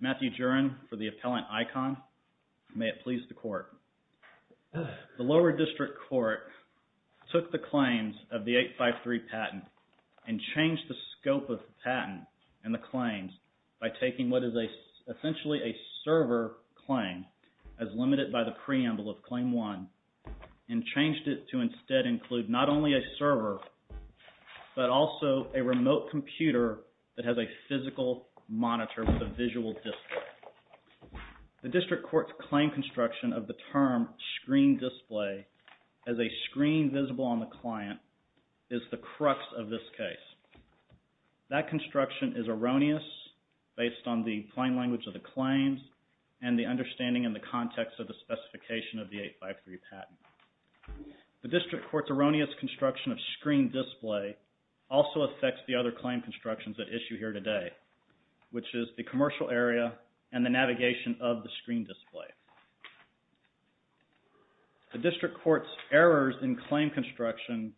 Matthew Juran for the Appellant ICON. May it please the Court. The Lower District Court took the claims of the 853 patent and changed the scope of the patent and the claims by taking what is essentially a server claim as limited by the preamble of Claim 1 and changed it to instead include not only a server but also a remote computer that has a physical monitor with a visual display. The District Court's claim construction of the term screen display as a screen visible on the client is the crux of this case. That construction is erroneous based on the plain language of the claims and the understanding in the context of the specification of the 853 patent. The District Court's erroneous construction of screen display also affects the other claim constructions at issue here today which is the commercial area and the navigation of the screen display. The District Court's errors in claim construction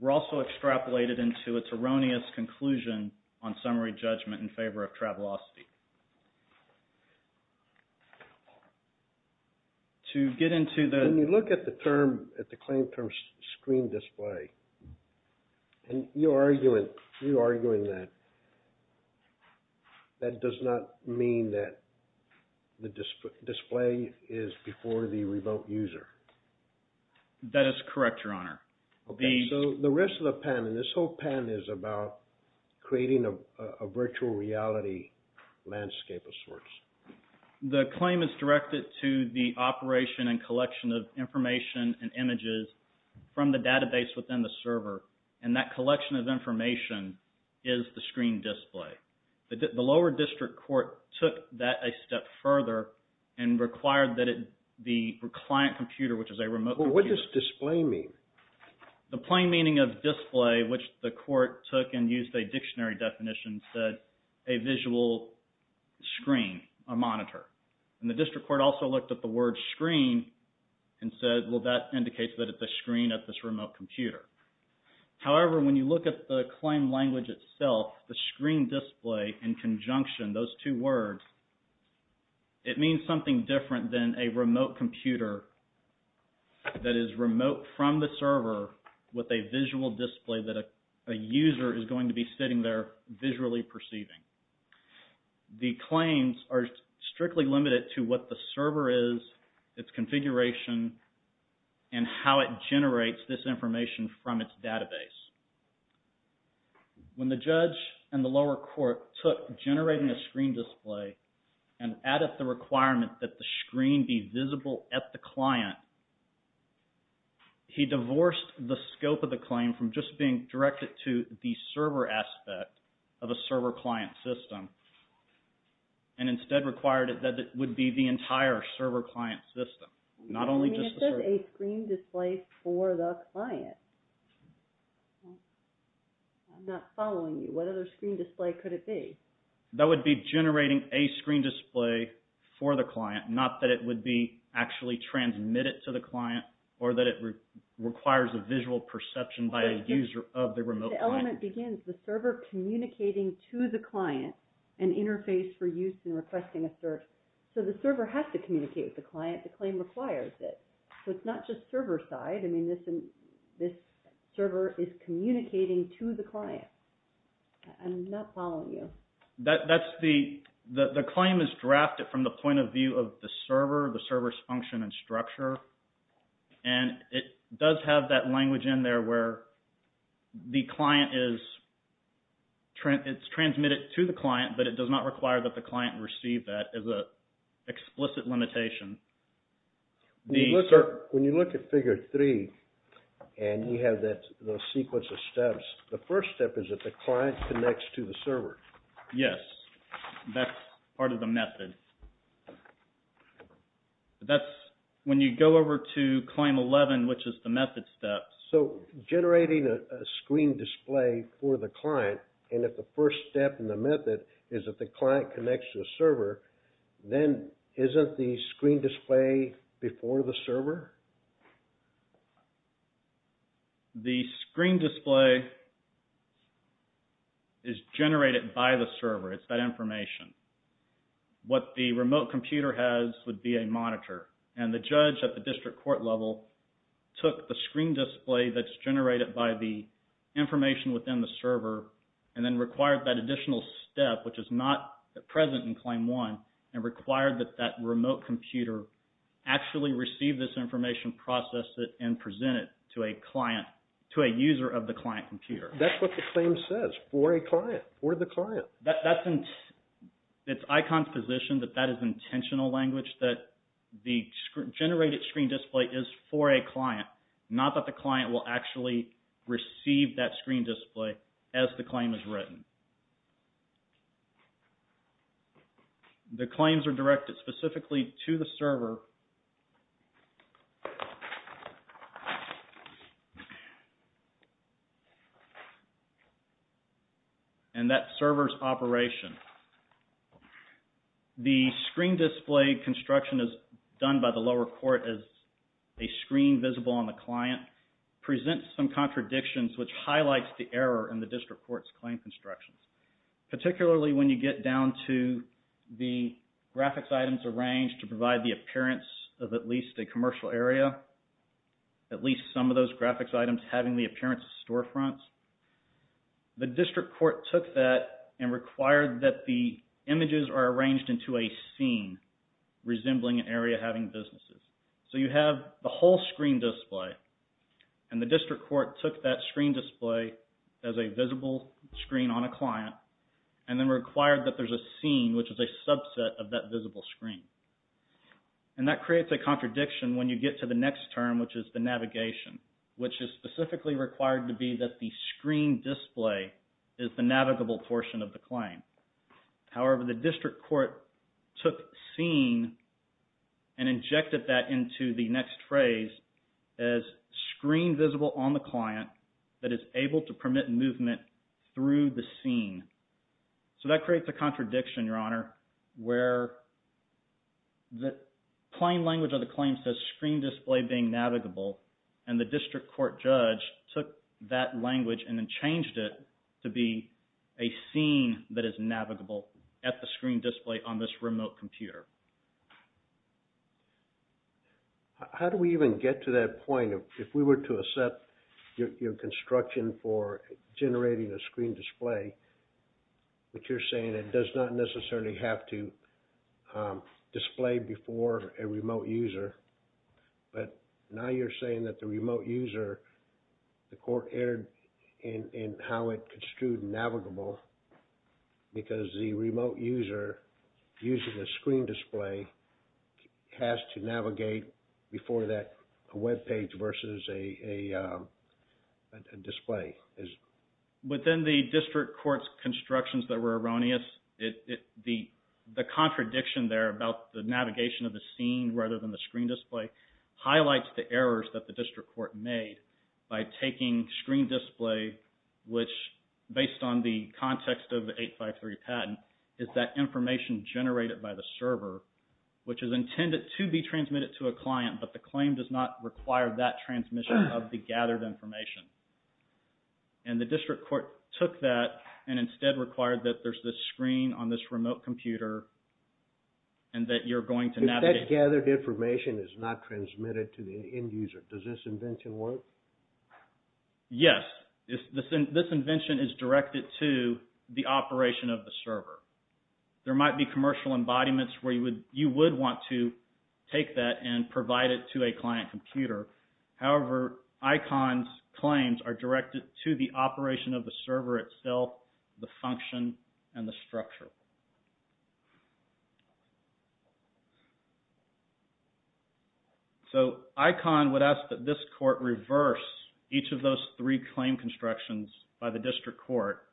were also extrapolated into its erroneous conclusion on summary judgment in favor of travelocity. To get into the... When you look at the claim term screen display and you are arguing that that does not mean that the display is before the remote user. That is correct, Your Honor. So the rest of the patent, this whole patent is about creating a virtual reality landscape of sorts. The claim is directed to the operation and collection of information and images from the database within the server and that collection of information is the screen display. The lower District Court took that a step further and required that the client computer, which is a remote... What does display mean? The District Court took and used a dictionary definition and said a visual screen, a monitor. And the District Court also looked at the word screen and said, well, that indicates that it's a screen at this remote computer. However, when you look at the claim language itself, the screen display in conjunction, those two words, it means something different than a remote computer that is remote from the server with a visual display that a user is going to be sitting there visually perceiving. The claims are strictly limited to what the server is, its configuration, and how it generates this information from its database. When the judge and the lower court took generating a screen display and added the requirement that the screen be visible at the client, he divorced the scope of the claim from just being directed to the server aspect of a server client system and instead required it that it would be the entire server client system, not only just the server. I mean, it says a screen display for the client. I'm not following you. What other screen display could it be? That would be generating a screen display for the client, not that it would be actually transmitted to the client or that it requires a visual perception by a user of the remote client. The element begins the server communicating to the client an interface for use in requesting a search. So, the server has to communicate with the client. The claim requires it. So, it's not just server side. I mean, this server is communicating to the client. I'm not following you. That's the...the claim is drafted from the point of view of the server, the server's function and structure. And it does have that language in there where the client is...it's transmitted to the client, but it does not require that the client receive that as a explicit limitation. When you look at figure three and you have that sequence of steps, the first step is that the client connects to the server. Yes, that's part of the method. That's...when you go over to claim 11, which is the method steps. So, generating a screen display for the client and if the first step in the method is that the client connects to the server, then isn't the screen display before the server? The screen display is generated by the server. It's that information. What the remote computer has would be a monitor. And the judge at the district court level took the screen display that's generated by the information within the server and then required that additional step, which is not present in claim one, and required that that remote computer actually receive this information, process it, and present it to a client, to a user of the client computer. That's what the claim says, for a client, for the client. That's...it's ICON's position that that is intentional language, that the generated screen display is for a client, not that the client will actually receive that screen display as the claim is written. The claims are directed specifically to the server, and that server's operation. The screen display construction is done by the lower court as a screen visible on the client, presents some contradictions, which highlights the error in the district court's claim constructions, particularly when you get down to the graphics items arranged to provide the appearance of at least a commercial area, at least some of those graphics items having the appearance of storefronts. The district court took that and required that the images are arranged into a scene resembling an area having businesses. So you have the whole screen display, and the district court took that screen display as a visible screen on a client, and then required that there's a scene, which is a subset of that visible screen. And that creates a contradiction when you get to the next term, which is the navigation, which is specifically required to be that the screen display is the navigable portion of the claim. However, the district court took scene and injected that into the next phrase as screen visible on the client that is able to permit movement through the scene. So that creates a contradiction, Your Honor, where the plain language of the claim says screen display being navigable, and the district court judge took that language and then changed it to be a scene that is navigable at the screen display on this remote computer. How do we even get to that point? If we were to accept your construction for generating a screen display, which you're saying it does not necessarily have to display before a remote user, but now you're saying that the remote user, the court erred in how it construed it as being navigable, because the remote user using the screen display has to navigate before that web page versus a display. Within the district court's constructions that were erroneous, the contradiction there about the navigation of the scene rather than the screen display highlights the errors that the district court made by taking screen display, which based on the context of the 853 patent, is that information generated by the server, which is intended to be transmitted to a client, but the claim does not require that transmission of the gathered information. And the district court took that and instead required that there's this screen on this remote computer and that you're going to navigate... Information is not transmitted to the end user. Does this invention work? Yes. This invention is directed to the operation of the server. There might be commercial embodiments where you would want to take that and provide it to a client computer. However, ICON's claims are directed to the operation of the server itself, the function, and the structure. So ICON would ask that this court reverse each of those three claim constructions by the district court,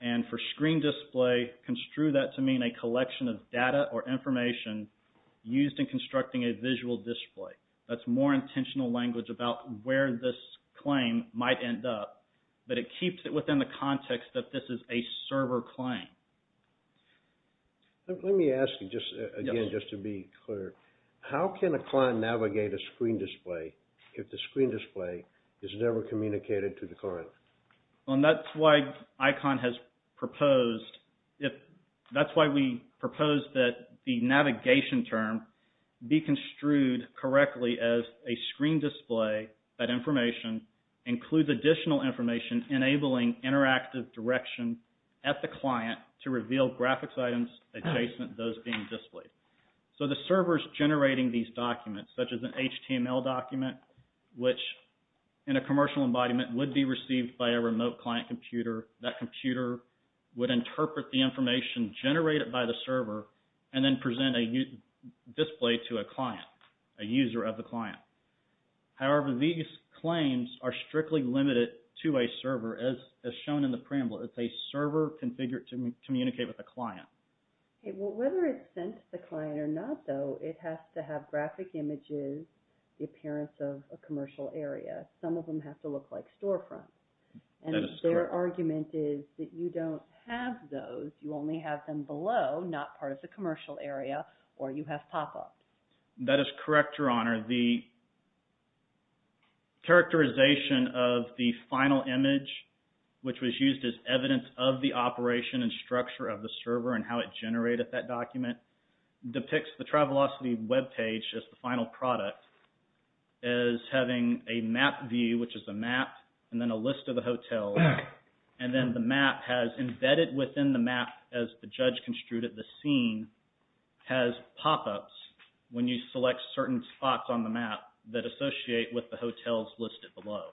and for screen display, construe that to mean a collection of data or information used in constructing a visual display. That's more intentional language about where this claim might end up, but it keeps it within the context that this is a server claim. Let me ask you just again, just to be clear. How can a client navigate a screen display if the screen display is never communicated to the client? Well, and that's why ICON has proposed... That's why we propose that the navigation term be construed correctly as a screen display that information includes additional information enabling interactive direction at the client to reveal graphics items adjacent to those being displayed. So the server's generating these documents, such as an HTML document, which in a commercial embodiment would be received by a remote client computer. That computer would interpret the information generated by the server and then present a display to a client, a user of the client. However, these claims are strictly limited to a server as shown in the preamble. It's a server configured to communicate with a client. Okay, well, whether it's sent to the client or not, though, it has to have graphic images, the appearance of a commercial area. Some of them have to look like storefronts, and their argument is that you don't have those. You only have them below, not part of the That is correct, Your Honor. The characterization of the final image, which was used as evidence of the operation and structure of the server and how it generated that document, depicts the Travelocity webpage as the final product as having a map view, which is a map, and then a list of the hotels. And then the map has embedded within the map as the judge construed it, the scene, has pop-ups when you select certain spots on the map that associate with the hotels listed below.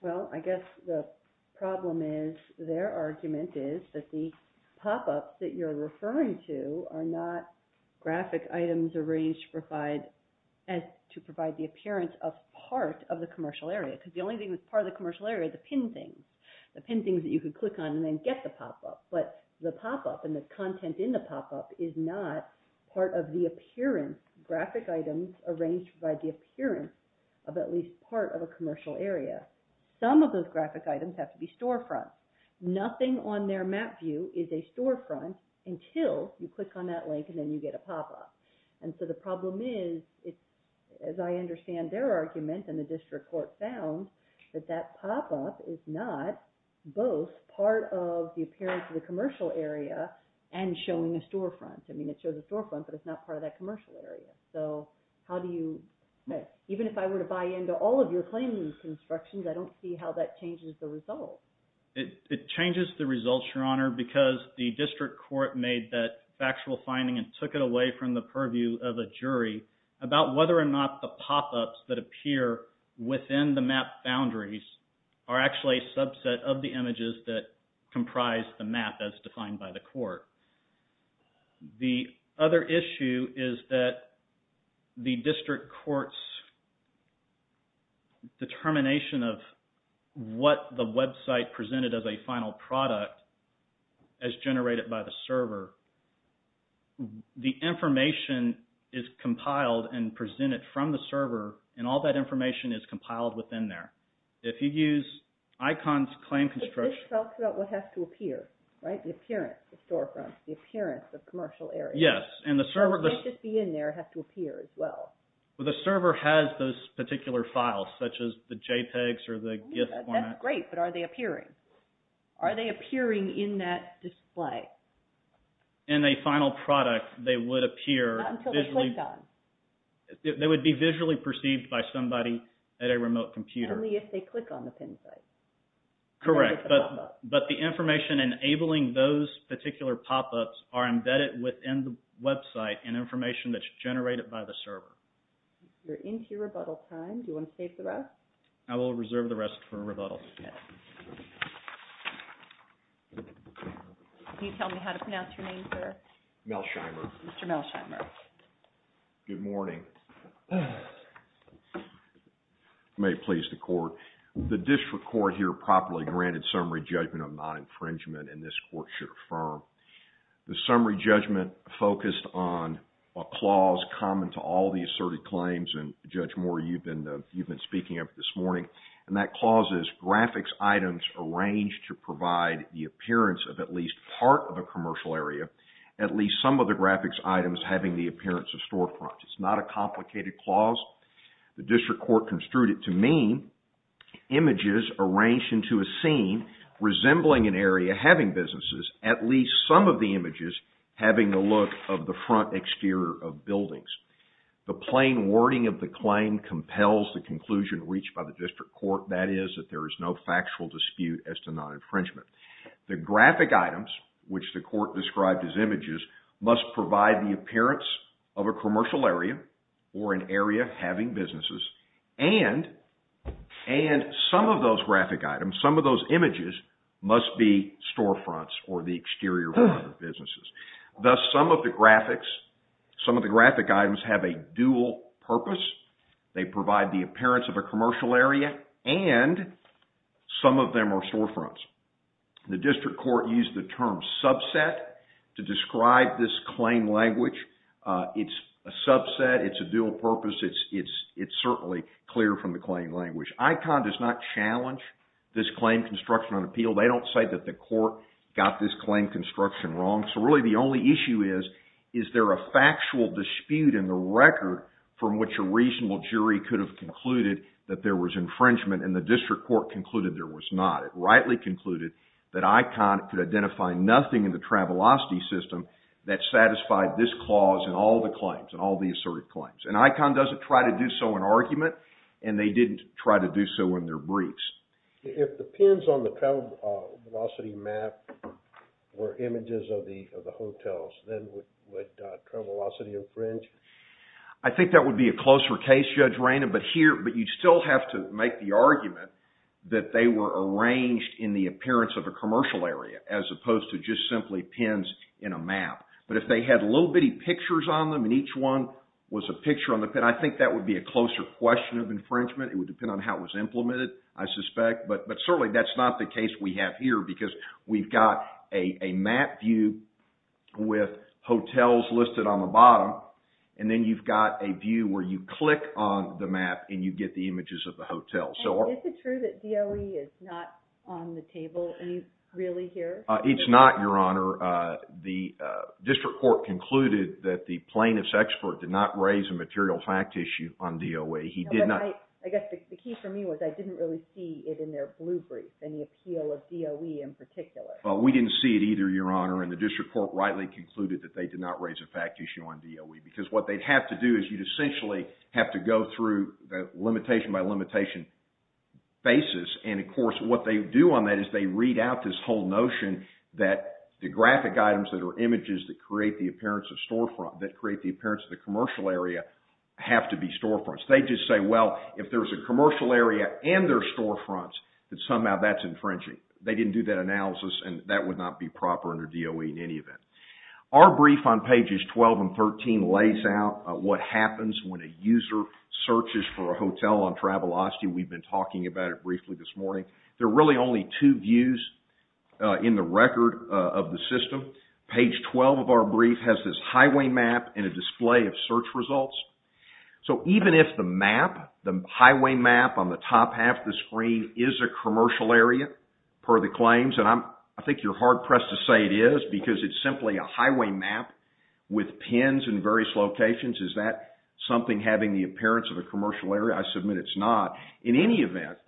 Well, I guess the problem is, their argument is, that the pop-ups that you're referring to are not graphic items arranged to provide the appearance of part of the commercial area. Because the only thing that's part of the commercial area are the pin things. The pin things that you could click on and then get the pop-up. But the pop-up and the content in the pop-up is not part of the appearance, graphic items arranged to provide the appearance of at least part of a commercial area. Some of those graphic items have to be storefronts. Nothing on their map view is a storefront until you click on that link and then you get a pop-up. And so the problem is, as I understand their argument and the district court found, that that pop-up is not both part of the appearance of the commercial area and showing a storefront. I mean, it shows a storefront, but it's not part of that commercial area. So, how do you, even if I were to buy into all of your claims and constructions, I don't see how that changes the result. It changes the results, Your Honor, because the district court made that factual finding and took it away from the purview of a jury about whether or not the pop-ups that appear within the map boundaries are actually a subset of the images that comprise the map as defined by the court. The other issue is that the district court's determination of what the website presented as a final product as generated by the server, the information is compiled and presented from the server and all that information is compiled within there. If you use ICONS Claim Construction... It just talks about what has to appear, right? The appearance, the storefront, the appearance of commercial areas. Yes, and the server... It can't just be in there, it has to appear as well. The server has those particular files, such as the JPEGs or the GIF format. That's great, but are they appearing? Are they appearing in that display? In a final product, they would appear... They would be visually perceived by somebody at a remote computer. Only if they click on the pin site. Correct, but the information enabling those particular pop-ups are embedded within the website and information that's generated by the server. We're into rebuttal time. Do you want to save the rest? I will reserve the rest for rebuttal. Can you tell me how to pronounce your name, sir? Melsheimer. Mr. Melsheimer. Good morning. You may please the court. The district court here properly granted summary judgment of non-infringement and this court should affirm. The summary judgment focused on a clause common to all the asserted claims, and Judge Moore, you've been speaking of this morning, and that clause is graphics items arranged to provide the appearance of at least part of a commercial area, at least some of the graphics items having the appearance of storefronts. It's not a complicated clause. The district court construed it to mean images arranged into a scene resembling an area having businesses, at least some of the images having the look of the front exterior of buildings. The plain wording of the claim compels the conclusion reached by the district court, that is, that there is no factual dispute as to non-infringement. The graphic items, which the court described as images, must provide the appearance of a commercial area or an area having businesses, and some of those graphic items, some of those images must be storefronts or the exterior of businesses. Thus, some of the graphics, some of the graphic items have a dual purpose. They provide the appearance of a commercial area, and some of them are storefronts. The district court used the term subset to describe this claim language. It's a subset, it's a dual purpose, it's certainly clear from the claim language. ICON does not challenge this claim construction on appeal. They don't say that the court got this claim construction wrong. So really the only issue is, is there a factual dispute in the record from which a reasonable jury could have concluded that there was infringement, and the district court concluded there was not. It rightly concluded that ICON could identify nothing in the Travelocity System that satisfied this clause in all the claims, in all the asserted claims. And ICON doesn't try to do so in argument, and they didn't try to do so in their briefs. If the pins on the Travelocity map were images of the hotels, then would Travelocity infringe? I think that would be a closer case, Judge Raina, but you'd still have to make the argument that they were arranged in the appearance of a commercial area, as opposed to just simply pins in a map. But if they had little bitty pictures on them, and each one was a picture on the pin, I think that would be a closer question of infringement. It would depend on how it was implemented, I suspect. But certainly that's not the case we have here, because we've got a map view with hotels listed on the bottom, and then you've got a view where you click on the map and you get the images of the hotels. Is it true that DOE is not on the table? Are you really here? It's not, Your Honor. The district court concluded that the plaintiff's expert did not raise a material fact issue on DOE. I guess the key for me was I didn't really see it in their blue brief, in the appeal of DOE in particular. We didn't see it either, Your Honor, and the district court rightly concluded that they did not raise a fact issue on DOE, because what they'd have to do is you'd essentially have to go through the limitation by limitation basis, and of course what they do on that is they read out this whole notion that the graphic items that are images that create the appearance of storefront, that create the appearance of the commercial area, have to be storefronts. They just say, well, if there's a commercial area and there's storefronts, then somehow that's infringing. They didn't do that analysis, and that would not be proper under DOE in any event. Our brief on pages 12 and 13 lays out what happens when a user searches for a hotel on Travelocity. We've been talking about it briefly this morning. There are really only two views in the record of the system. Page 12 of our brief has this highway map and a display of search results. So even if the map, the highway map on the top half of the screen, is a commercial area, per the claims, and I think you're hard-pressed to say it is, because it's simply a highway map with pins in various locations. Is that something having the appearance of a commercial area? I submit it's not. In any event,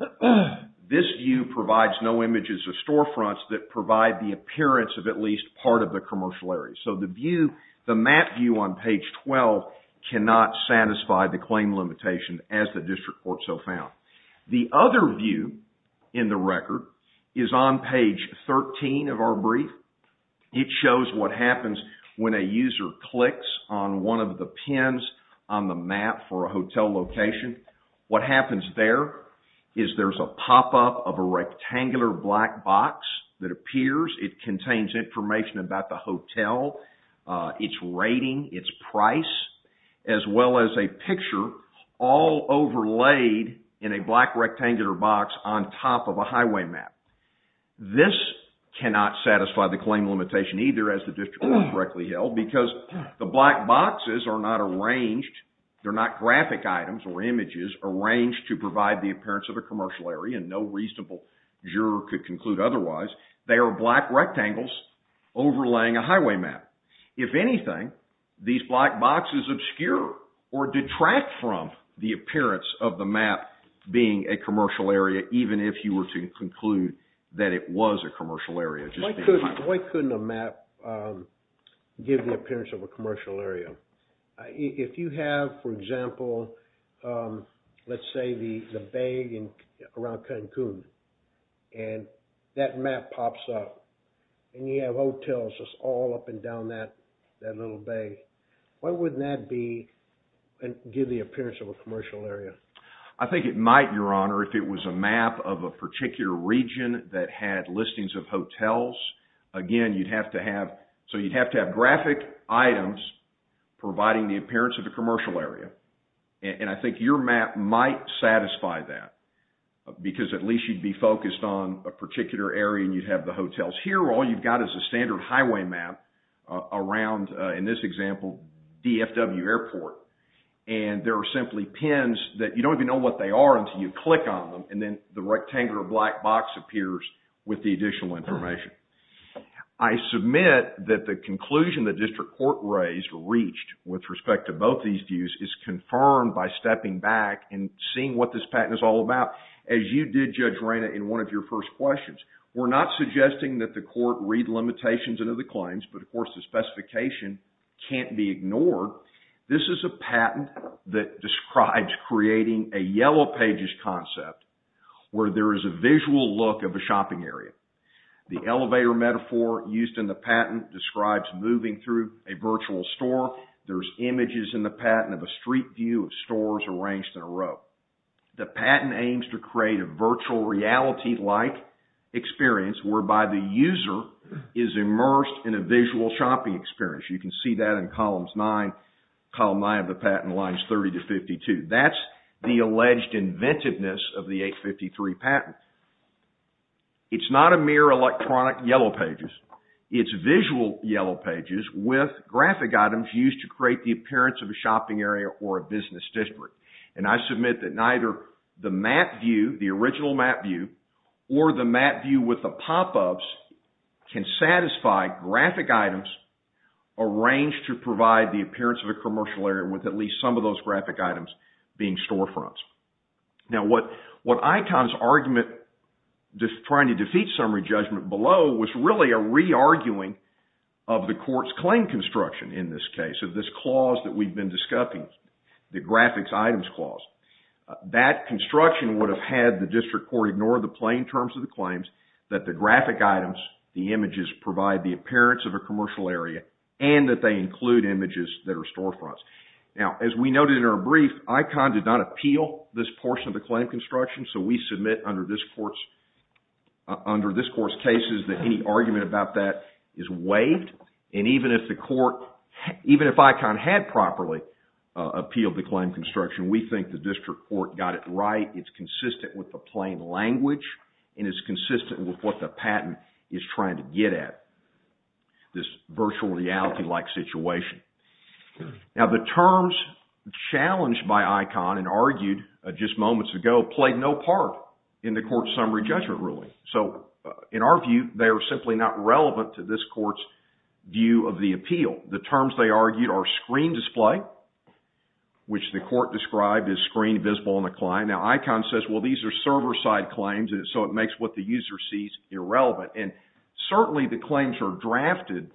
this view provides no images of storefronts that provide the appearance of at least part of the commercial area. So the map view on page 12 cannot satisfy the claim limitation as the District Court so found. The other view in the record is on page 13 of our brief. It shows what happens when a user clicks on one of the pins on the map for a hotel location. What happens there is there's a pop-up of a rectangular black box that appears. It contains information about the hotel, its rating, its price, as well as a picture all overlaid in a black rectangular box on top of a highway map. This cannot satisfy the claim limitation either, as the District Court correctly held, because the black boxes are not arranged, they're not graphic items or images arranged to provide the appearance of a commercial area, and no reasonable juror could conclude otherwise. They are black rectangles overlaying a highway map. If anything, these black boxes obscure or detract from the appearance of the map being a commercial area, even if you were to conclude that it was a commercial area. Why couldn't a map give the appearance of a commercial area? If you have, for example, let's say the bay around Cancun, and that map pops up, and you have hotels all up and down that little bay, why wouldn't that give the appearance of a commercial area? I think it might, Your Honor, if it was a map of a particular region that had listings of hotels. Again, you'd have to have graphic items providing the appearance of a commercial area, and I think your map might satisfy that, because at least you'd be focused on a particular area, and you'd have the hotels. Here, all you've got is a standard highway map around, in this example, DFW Airport, and there are simply pins that you don't even know what they are until you click on them, and then the rectangular black box appears with the additional information. I submit that the conclusion the District Court raised, reached, with respect to both these views, is confirmed by stepping back and seeing what this patent is all about. As you did, Judge Reyna, in one of your first questions, we're not suggesting that the court read limitations into the claims, but, of course, the specification can't be ignored. This is a patent that describes creating a yellow pages concept, where there is a visual look of a shopping area. The elevator metaphor used in the patent describes moving through a virtual store. There's images in the patent of a street view of stores arranged in a row. The patent aims to create a virtual reality-like experience, whereby the user is immersed in a visual shopping experience. You can see that in Columns 9. Column 9 of the patent lines 30 to 52. That's the alleged inventiveness of the 853 patent. It's not a mere electronic yellow pages. It's visual yellow pages with graphic items used to create the appearance of a shopping area or a business district. And I submit that neither the map view, the original map view, or the map view with the pop-ups can satisfy graphic items arranged to provide the appearance of a commercial area with at least some of those graphic items being storefronts. Now, what ICON's argument, trying to defeat summary judgment below, was really a re-arguing of the court's claim construction in this case, of this clause that we've been discussing, the graphics items clause. That construction would have had the district court ignore the plain terms of the claims, that the graphic items, the images, provide the appearance of a commercial area, and that they include images that are storefronts. Now, as we noted in our brief, ICON did not appeal this portion of the claim construction, so we submit under this court's cases that any argument about that is waived. And even if the court, even if ICON had properly appealed the claim construction, we think the district court got it right. It's consistent with the plain language, and it's consistent with what the patent is trying to get at, this virtual reality-like situation. Now, the terms challenged by ICON and argued just moments ago played no part in the court's summary judgment ruling. So, in our view, they are simply not relevant to this court's view of the appeal. The terms they argued are screen display, which the court described as screen visible on the client. Now, ICON says, well, these are server-side claims, so it makes what the user sees irrelevant. And certainly the claims are drafted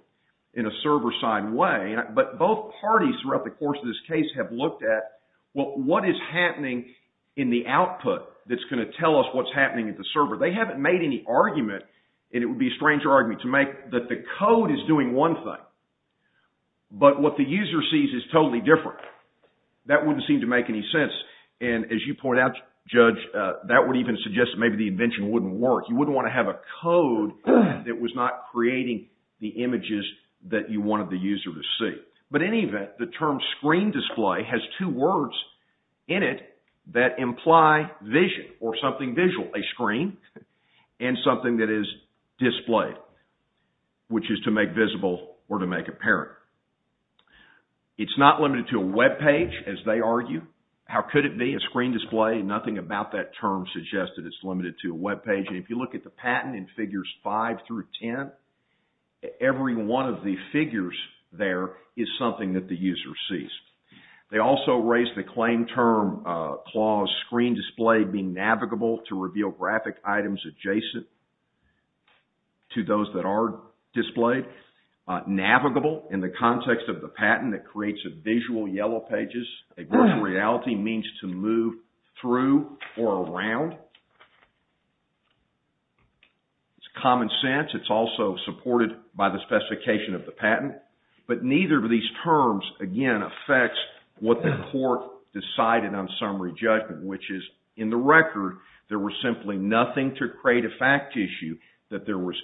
in a server-side way, but both parties throughout the course of this case have looked at, well, what is happening in the output that's going to tell us what's happening at the server? They haven't made any argument, and it would be a stranger argument, to make that the code is doing one thing, but what the user sees is totally different. That wouldn't seem to make any sense. And as you point out, Judge, that would even suggest that maybe the invention wouldn't work. You wouldn't want to have a code that was not creating the images that you wanted the user to see. But in any event, the term screen display has two words in it that imply vision or something visual. A screen and something that is displayed, which is to make visible or to make apparent. It's not limited to a web page, as they argue. How could it be a screen display? Nothing about that term suggests that it's limited to a web page. And if you look at the patent in Figures 5 through 10, every one of the figures there is something that the user sees. They also raise the claim term clause screen display being navigable to reveal graphic items adjacent to those that are displayed. Navigable in the context of the patent that creates a visual yellow pages. A virtual reality means to move through or around. It's common sense. It's also supported by the specification of the patent. But neither of these terms, again, affects what the court decided on summary judgment. Which is, in the record, there was simply nothing to create a fact issue that there was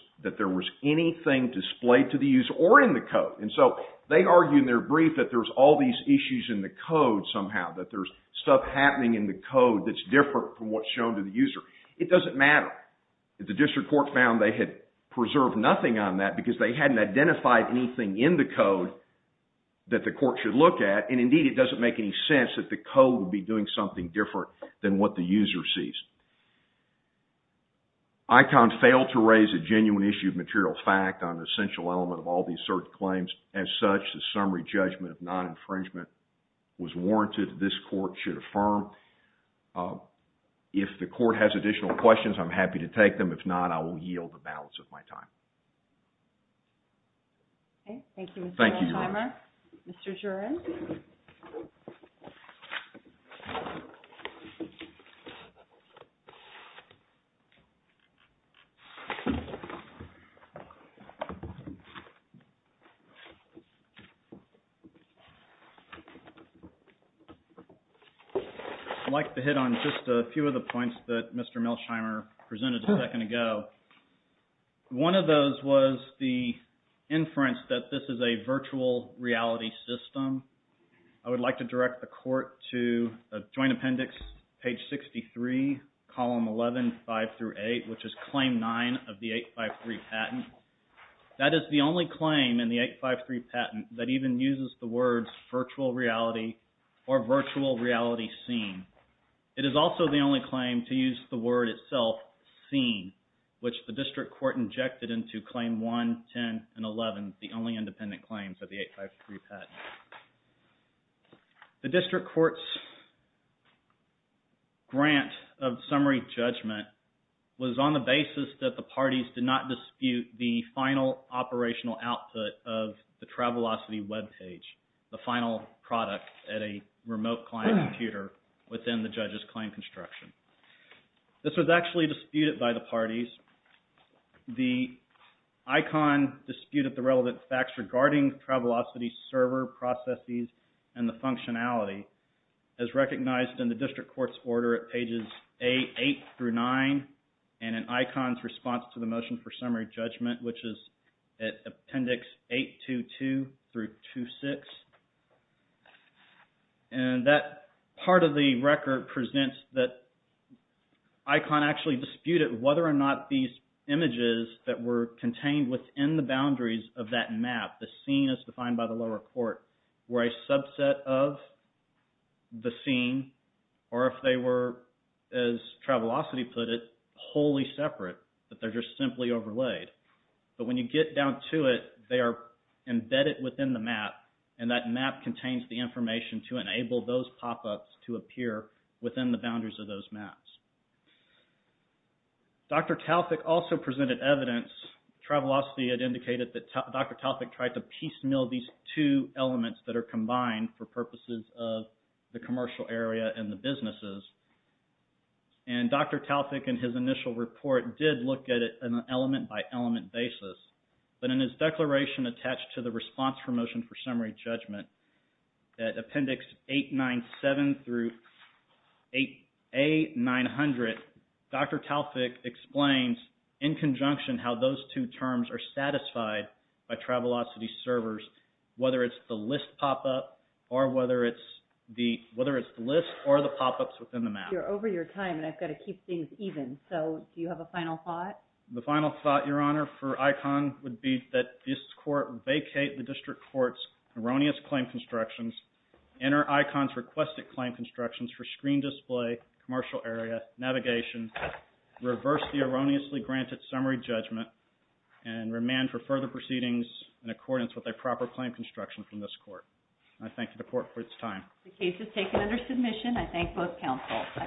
anything displayed to the user or in the code. And so they argue in their brief that there's all these issues in the code somehow. That there's stuff happening in the code that's different from what's shown to the user. It doesn't matter. The district court found they had preserved nothing on that because they hadn't identified anything in the code that the court should look at. And indeed, it doesn't make any sense that the code would be doing something different than what the user sees. ICON failed to raise a genuine issue of material fact on an essential element of all these certain claims. As such, the summary judgment of non-infringement was warranted that this court should affirm. If the court has additional questions, I'm happy to take them. If not, I will yield the balance of my time. Thank you, Mr. Nashimer. Thank you, Your Honor. Mr. Jurin. I'd like to hit on just a few of the points that Mr. Milshimer presented a second ago. One of those was the inference that this is a virtual reality system. I would like to direct the court to the Joint Appendix, page 63, column 11, 5 through 8, which is claim 9 of the 853 patent. That is the only claim in the 853 patent that even uses the words virtual reality or virtual reality scene. It is also the only claim to use the word itself, scene, which the district court injected into claim 1, 10, and 11, the only independent claims of the 853 patent. The district court's grant of summary judgment was on the basis that the parties did not dispute the final operational output of the Travelocity webpage, the final product at a remote client computer within the judge's claim construction. This was actually disputed by the parties. The ICON disputed the relevant facts regarding Travelocity's server, processes, and the functionality, as recognized in the district court's order at pages 8 through 9, and in ICON's response to the motion for summary judgment, which is at Appendix 822 through 26. That part of the record presents that ICON actually disputed whether or not these images that were contained within the boundaries of that map, the scene, as defined by the lower court, were a subset of the scene, or if they were, as Travelocity put it, wholly separate, that they're just simply overlaid. But when you get down to it, they are embedded within the map, and that map contains the information to enable those pop-ups to appear within the boundaries of those maps. Dr. Talfik also presented evidence, Travelocity had indicated that Dr. Talfik tried to piecemeal these two elements that are combined for purposes of the commercial area and the businesses. And Dr. Talfik, in his initial report, did look at it on an element-by-element basis. But in his declaration attached to the response for motion for summary judgment, at Appendix 897 through A900, Dr. Talfik explains, in conjunction, how those two terms are satisfied by Travelocity's servers, whether it's the list pop-up, or whether it's the list or the pop-ups within the map. You're over your time, and I've got to keep things even, so do you have a final thought? The final thought, Your Honor, for ICON, would be that this Court vacate the District Court's erroneous claim constructions, enter ICON's requested claim constructions for screen display, commercial area, navigation, reverse the erroneously granted summary judgment, and remand for further proceedings in accordance with a proper claim construction from this Court. And I thank the Court for its time. The case is taken under submission. I thank both counsels.